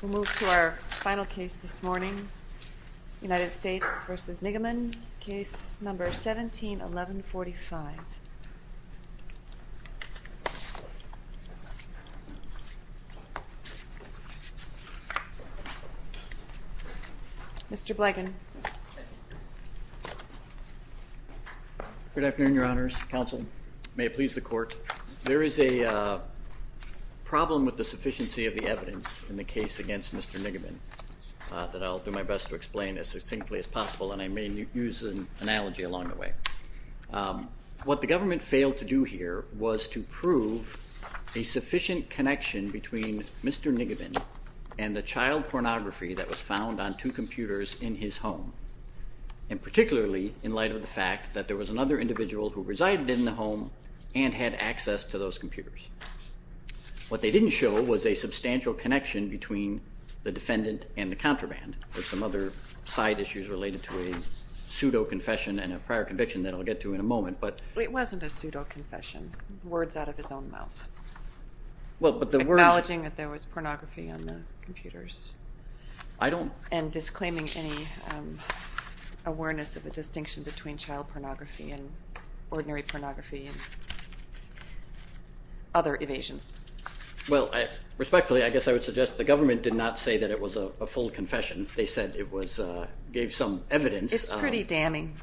We'll move to our final case this morning, United States v. Niggemann, Case No. 17-1145. Mr. Blegin. Good afternoon, Your Honors. Counsel, may it please the Court. There is a problem with the sufficiency of the evidence in the case against Mr. Niggemann that I'll do my best to explain as succinctly as possible, and I may use an analogy along the way. What the government failed to do here was to prove a sufficient connection between Mr. Niggemann and the child pornography that was found on two computers in his home, and particularly in light of the fact that there was another individual who resided in the home and had access to those computers. What they didn't show was a substantial connection between the defendant and the contraband. There were some other side issues related to a pseudo-confession and a prior conviction that I'll get to in a moment, but… It wasn't a pseudo-confession. Words out of his own mouth. Well, but the words… Acknowledging that there was pornography on the computers. I don't… And disclaiming any awareness of a distinction between child pornography and ordinary pornography and other evasions. Well, respectfully, I guess I would suggest the government did not say that it was a full confession. They said it was… gave some evidence. It's pretty damning.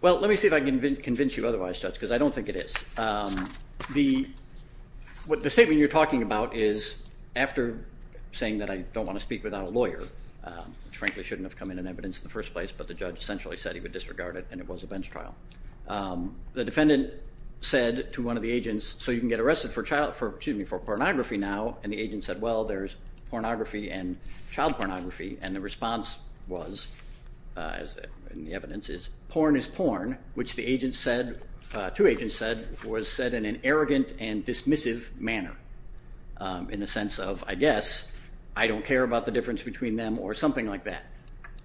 Well, let me see if I can convince you otherwise, Judge, because I don't think it is. The statement you're talking about is after saying that I don't want to speak without a lawyer, which frankly shouldn't have come in in evidence in the first place, but the judge essentially said he would disregard it, and it was a bench trial. The defendant said to one of the agents, so you can get arrested for pornography now, and the agent said, well, there's pornography and child pornography, and the response was, and the evidence is, porn is porn, which the agent said, two agents said, was said in an arrogant and dismissive manner in the sense of, I guess, I don't care about the difference between them or something like that.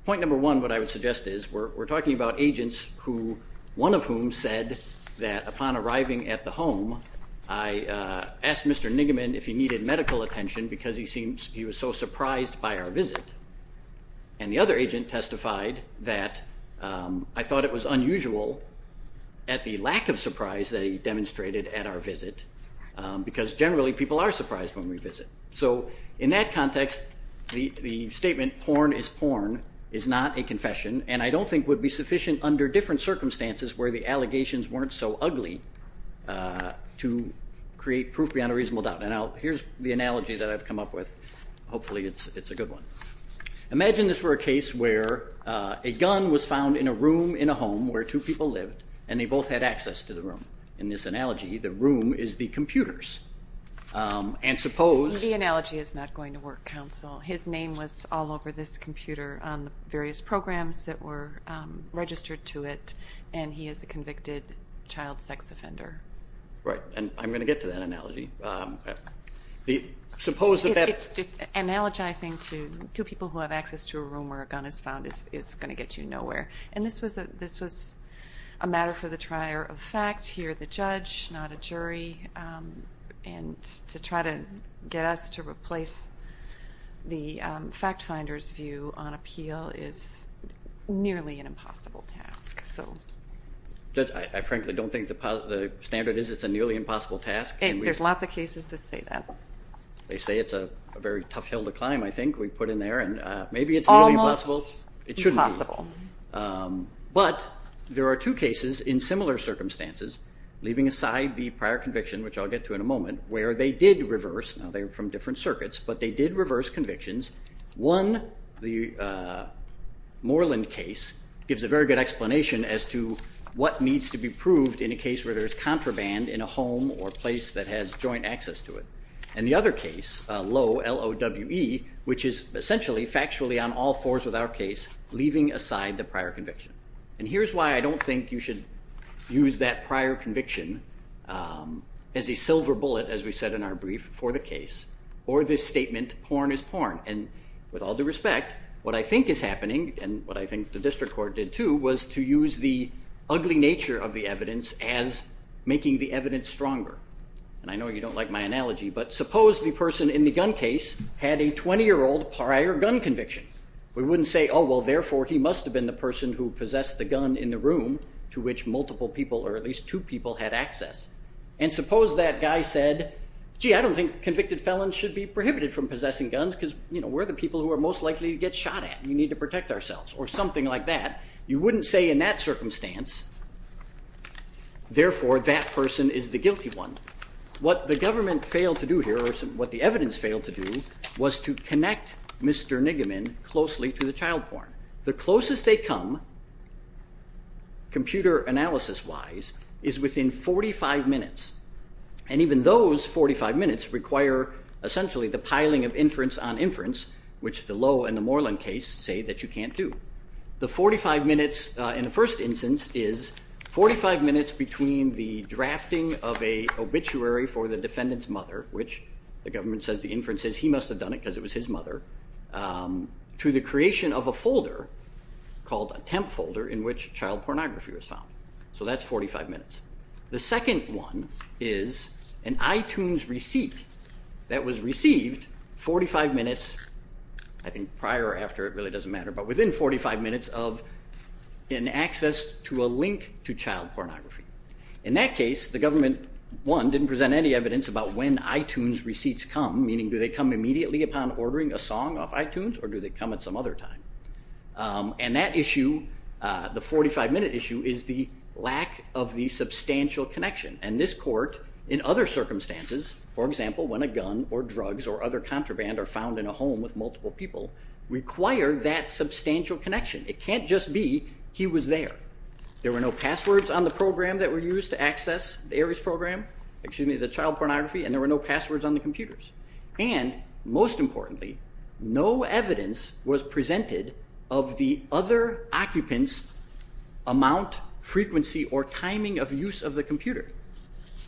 Point number one, what I would suggest is we're talking about agents who, one of whom said that upon arriving at the home, I asked Mr. Nigaman if he needed medical attention because he was so surprised by our visit, and the other agent testified that I thought it was unusual at the lack of surprise that he demonstrated at our visit because generally people are surprised when we visit. So in that context, the statement, porn is porn, is not a confession, and I don't think would be sufficient under different circumstances where the allegations weren't so ugly to create proof beyond a reasonable doubt. Now, here's the analogy that I've come up with. Hopefully it's a good one. Imagine this were a case where a gun was found in a room in a home where two people lived, and they both had access to the room. In this analogy, the room is the computers, and suppose- The analogy is not going to work, counsel. His name was all over this computer on the various programs that were registered to it, and he is a convicted child sex offender. Right, and I'm going to get to that analogy. Suppose that that- It's just analogizing to two people who have access to a room where a gun is found is going to get you nowhere. And this was a matter for the trier of fact. Here the judge, not a jury, and to try to get us to replace the fact finder's view on appeal is nearly an impossible task. Judge, I frankly don't think the standard is it's a nearly impossible task. There's lots of cases that say that. They say it's a very tough hill to climb, I think, we put in there, and maybe it's nearly impossible. Almost impossible. But there are two cases in similar circumstances, leaving aside the prior conviction, which I'll get to in a moment, where they did reverse, now they're from different circuits, but they did reverse convictions. One, the Moreland case, gives a very good explanation as to what needs to be proved in a case where there's contraband in a home or place that has joint access to it. And the other case, Lowe, L-O-W-E, which is essentially, factually on all fours with our case, leaving aside the prior conviction. And here's why I don't think you should use that prior conviction as a silver bullet, as we said in our brief, for the case, or this statement, porn is porn. And with all due respect, what I think is happening, and what I think the district court did too, was to use the ugly nature of the evidence as making the evidence stronger. And I know you don't like my analogy, but suppose the person in the gun case had a 20-year-old prior gun conviction. We wouldn't say, oh, well, therefore, he must have been the person who possessed the gun in the room, to which multiple people, or at least two people, had access. And suppose that guy said, gee, I don't think convicted felons should be prohibited from possessing guns, because, you know, we're the people who are most likely to get shot at, and we need to protect ourselves, or something like that. You wouldn't say in that circumstance, therefore, that person is the guilty one. What the government failed to do here, or what the evidence failed to do, was to connect Mr. Nigaman closely to the child porn. The closest they come, computer analysis-wise, is within 45 minutes. And even those 45 minutes require, essentially, the piling of inference on inference, which the Lowe and the Moreland case say that you can't do. The 45 minutes in the first instance is 45 minutes between the drafting of a obituary for the defendant's mother, which the government says the inference says he must have done it because it was his mother, to the creation of a folder called a temp folder in which child pornography was found. So that's 45 minutes. The second one is an iTunes receipt that was received 45 minutes, I think, prior or after, it really doesn't matter, but within 45 minutes of an access to a link to child pornography. In that case, the government, one, didn't present any evidence about when iTunes receipts come, meaning do they come immediately upon ordering a song off iTunes, or do they come at some other time? And that issue, the 45-minute issue, is the lack of the substantial connection. And this court, in other circumstances, for example, when a gun or drugs or other contraband are found in a home with multiple people, require that substantial connection. It can't just be he was there. There were no passwords on the program that were used to access the ARIES program, excuse me, the child pornography, and there were no passwords on the computers. And most importantly, no evidence was presented of the other occupant's amount, frequency, or timing of use of the computer.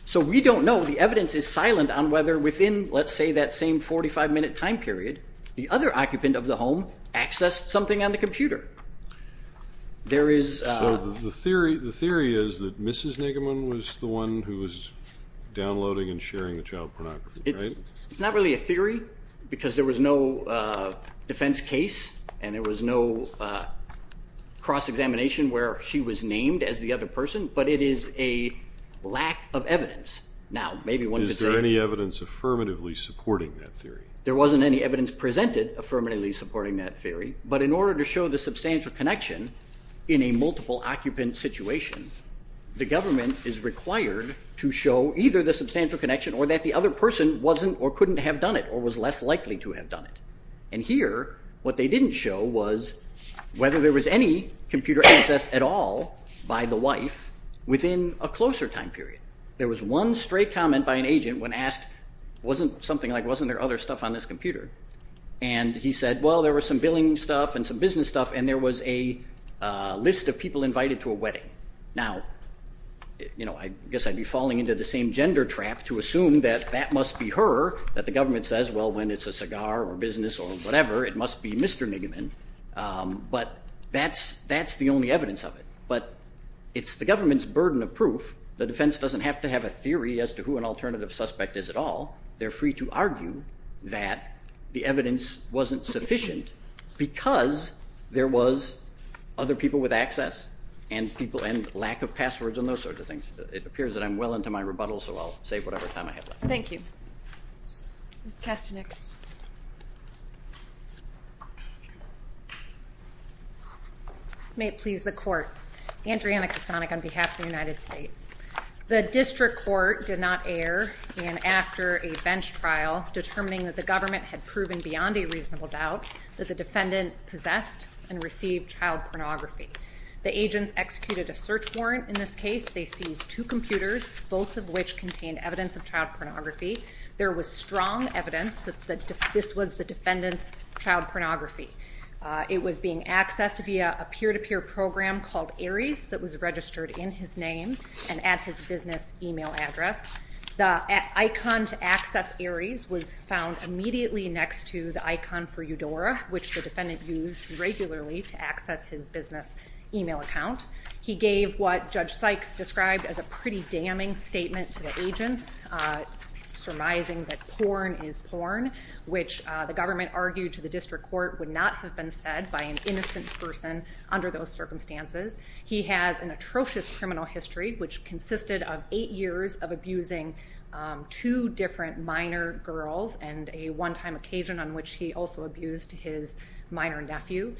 So we don't know. The evidence is silent on whether within, let's say, that same 45-minute time period, the other occupant of the home accessed something on the computer. There is a ---- So the theory is that Mrs. Nigamon was the one who was downloading and sharing the child pornography, right? It's not really a theory because there was no defense case and there was no cross-examination where she was named as the other person, but it is a lack of evidence. Now, maybe one could say ---- Is there any evidence affirmatively supporting that theory? There wasn't any evidence presented affirmatively supporting that theory, but in order to show the substantial connection in a multiple occupant situation, the government is required to show either the substantial connection or that the other person wasn't or couldn't have done it or was less likely to have done it. And here, what they didn't show was whether there was any computer access at all by the wife within a closer time period. There was one straight comment by an agent when asked, wasn't something like, wasn't there other stuff on this computer? And he said, well, there was some billing stuff and some business stuff and there was a list of people invited to a wedding. Now, I guess I'd be falling into the same gender trap to assume that that must be her, that the government says, well, when it's a cigar or business or whatever, it must be Mr. Nigman. But that's the only evidence of it. But it's the government's burden of proof. The defense doesn't have to have a theory as to who an alternative suspect is at all. They're free to argue that the evidence wasn't sufficient because there was other people with access and lack of passwords and those sorts of things. It appears that I'm well into my rebuttal, so I'll save whatever time I have left. Thank you. Ms. Kastanick. May it please the Court. Andriana Kastanick on behalf of the United States. The district court did not err in after a bench trial determining that the government had proven beyond a reasonable doubt that the defendant possessed and received child pornography. The agents executed a search warrant in this case. They seized two computers, both of which contained evidence of child pornography. There was strong evidence that this was the defendant's child pornography. It was being accessed via a peer-to-peer program called Aries that was registered in his name and at his business email address. The icon to access Aries was found immediately next to the icon for Eudora, which the defendant used regularly to access his business email account. He gave what Judge Sykes described as a pretty damning statement to the agents, surmising that porn is porn, which the government argued to the district court would not have been said by an innocent person under those circumstances. He has an atrocious criminal history, which consisted of eight years of abusing two different minor girls and a one-time occasion on which he also abused his minor nephew.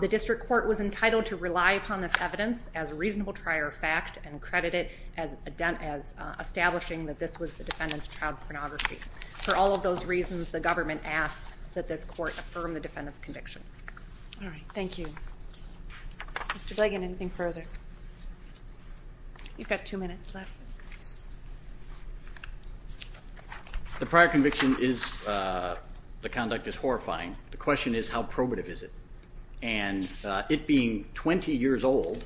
The district court was entitled to rely upon this evidence as a reasonable prior fact and credit it as establishing that this was the defendant's child pornography. For all of those reasons, the government asks that this court affirm the defendant's conviction. All right, thank you. Mr. Blagan, anything further? You've got two minutes left. The prior conviction is the conduct is horrifying. The question is how probative is it? And it being 20 years old,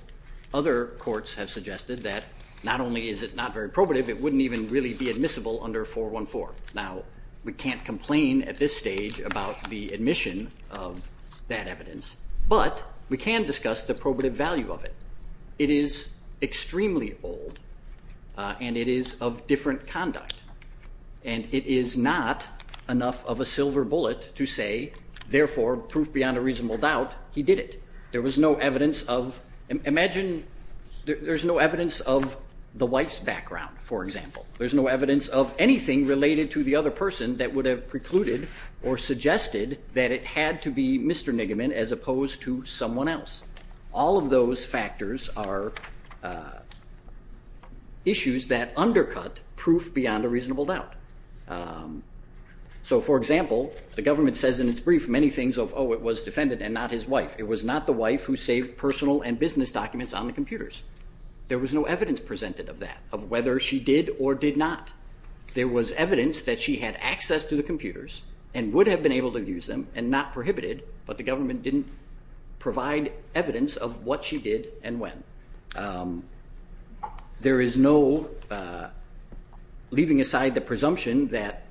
other courts have suggested that not only is it not very probative, it wouldn't even really be admissible under 414. Now, we can't complain at this stage about the admission of that evidence, but we can discuss the probative value of it. It is extremely old, and it is of different conduct, and it is not enough of a silver bullet to say, therefore, proof beyond a reasonable doubt, he did it. There was no evidence of the wife's background, for example. There's no evidence of anything related to the other person that would have precluded or suggested that it had to be Mr. Niggeman as opposed to someone else. All of those factors are issues that undercut proof beyond a reasonable doubt. So, for example, the government says in its brief many things of, oh, it was defendant and not his wife. It was not the wife who saved personal and business documents on the computers. There was no evidence presented of that, of whether she did or did not. There was evidence that she had access to the computers and would have been able to use them and not prohibited, but the government didn't provide evidence of what she did and when. There is no, leaving aside the presumption that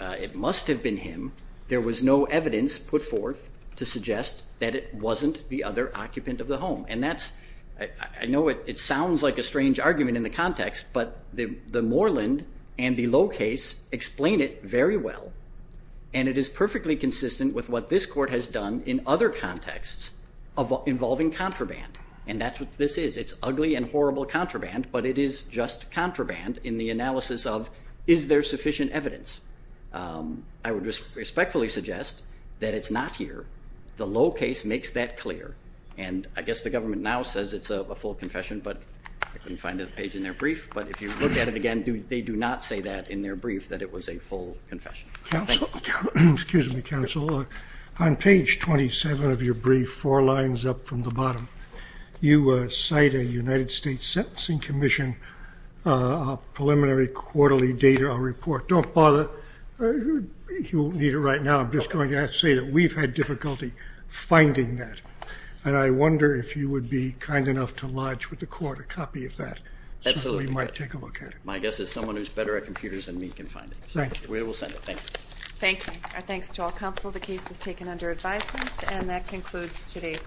it must have been him, there was no evidence put forth to suggest that it wasn't the other occupant of the home. And that's, I know it sounds like a strange argument in the context, but the Moreland and the Low case explain it very well, and it is perfectly consistent with what this court has done in other contexts involving contraband, and that's what this is. It's ugly and horrible contraband, but it is just contraband in the analysis of is there sufficient evidence. I would respectfully suggest that it's not here. The Low case makes that clear, and I guess the government now says it's a full confession, but I couldn't find the page in their brief, but if you look at it again, they do not say that in their brief that it was a full confession. Thank you. Excuse me, counsel. On page 27 of your brief, four lines up from the bottom, you cite a United States Sentencing Commission preliminary quarterly data report. Don't bother. You won't need it right now. I'm just going to say that we've had difficulty finding that, and I wonder if you would be kind enough to lodge with the court a copy of that. Absolutely. So we might take a look at it. My guess is someone who's better at computers than me can find it. Thank you. We will send it. Thank you. Thank you. Our thanks to all counsel. The case is taken under advisement, and that concludes today's call.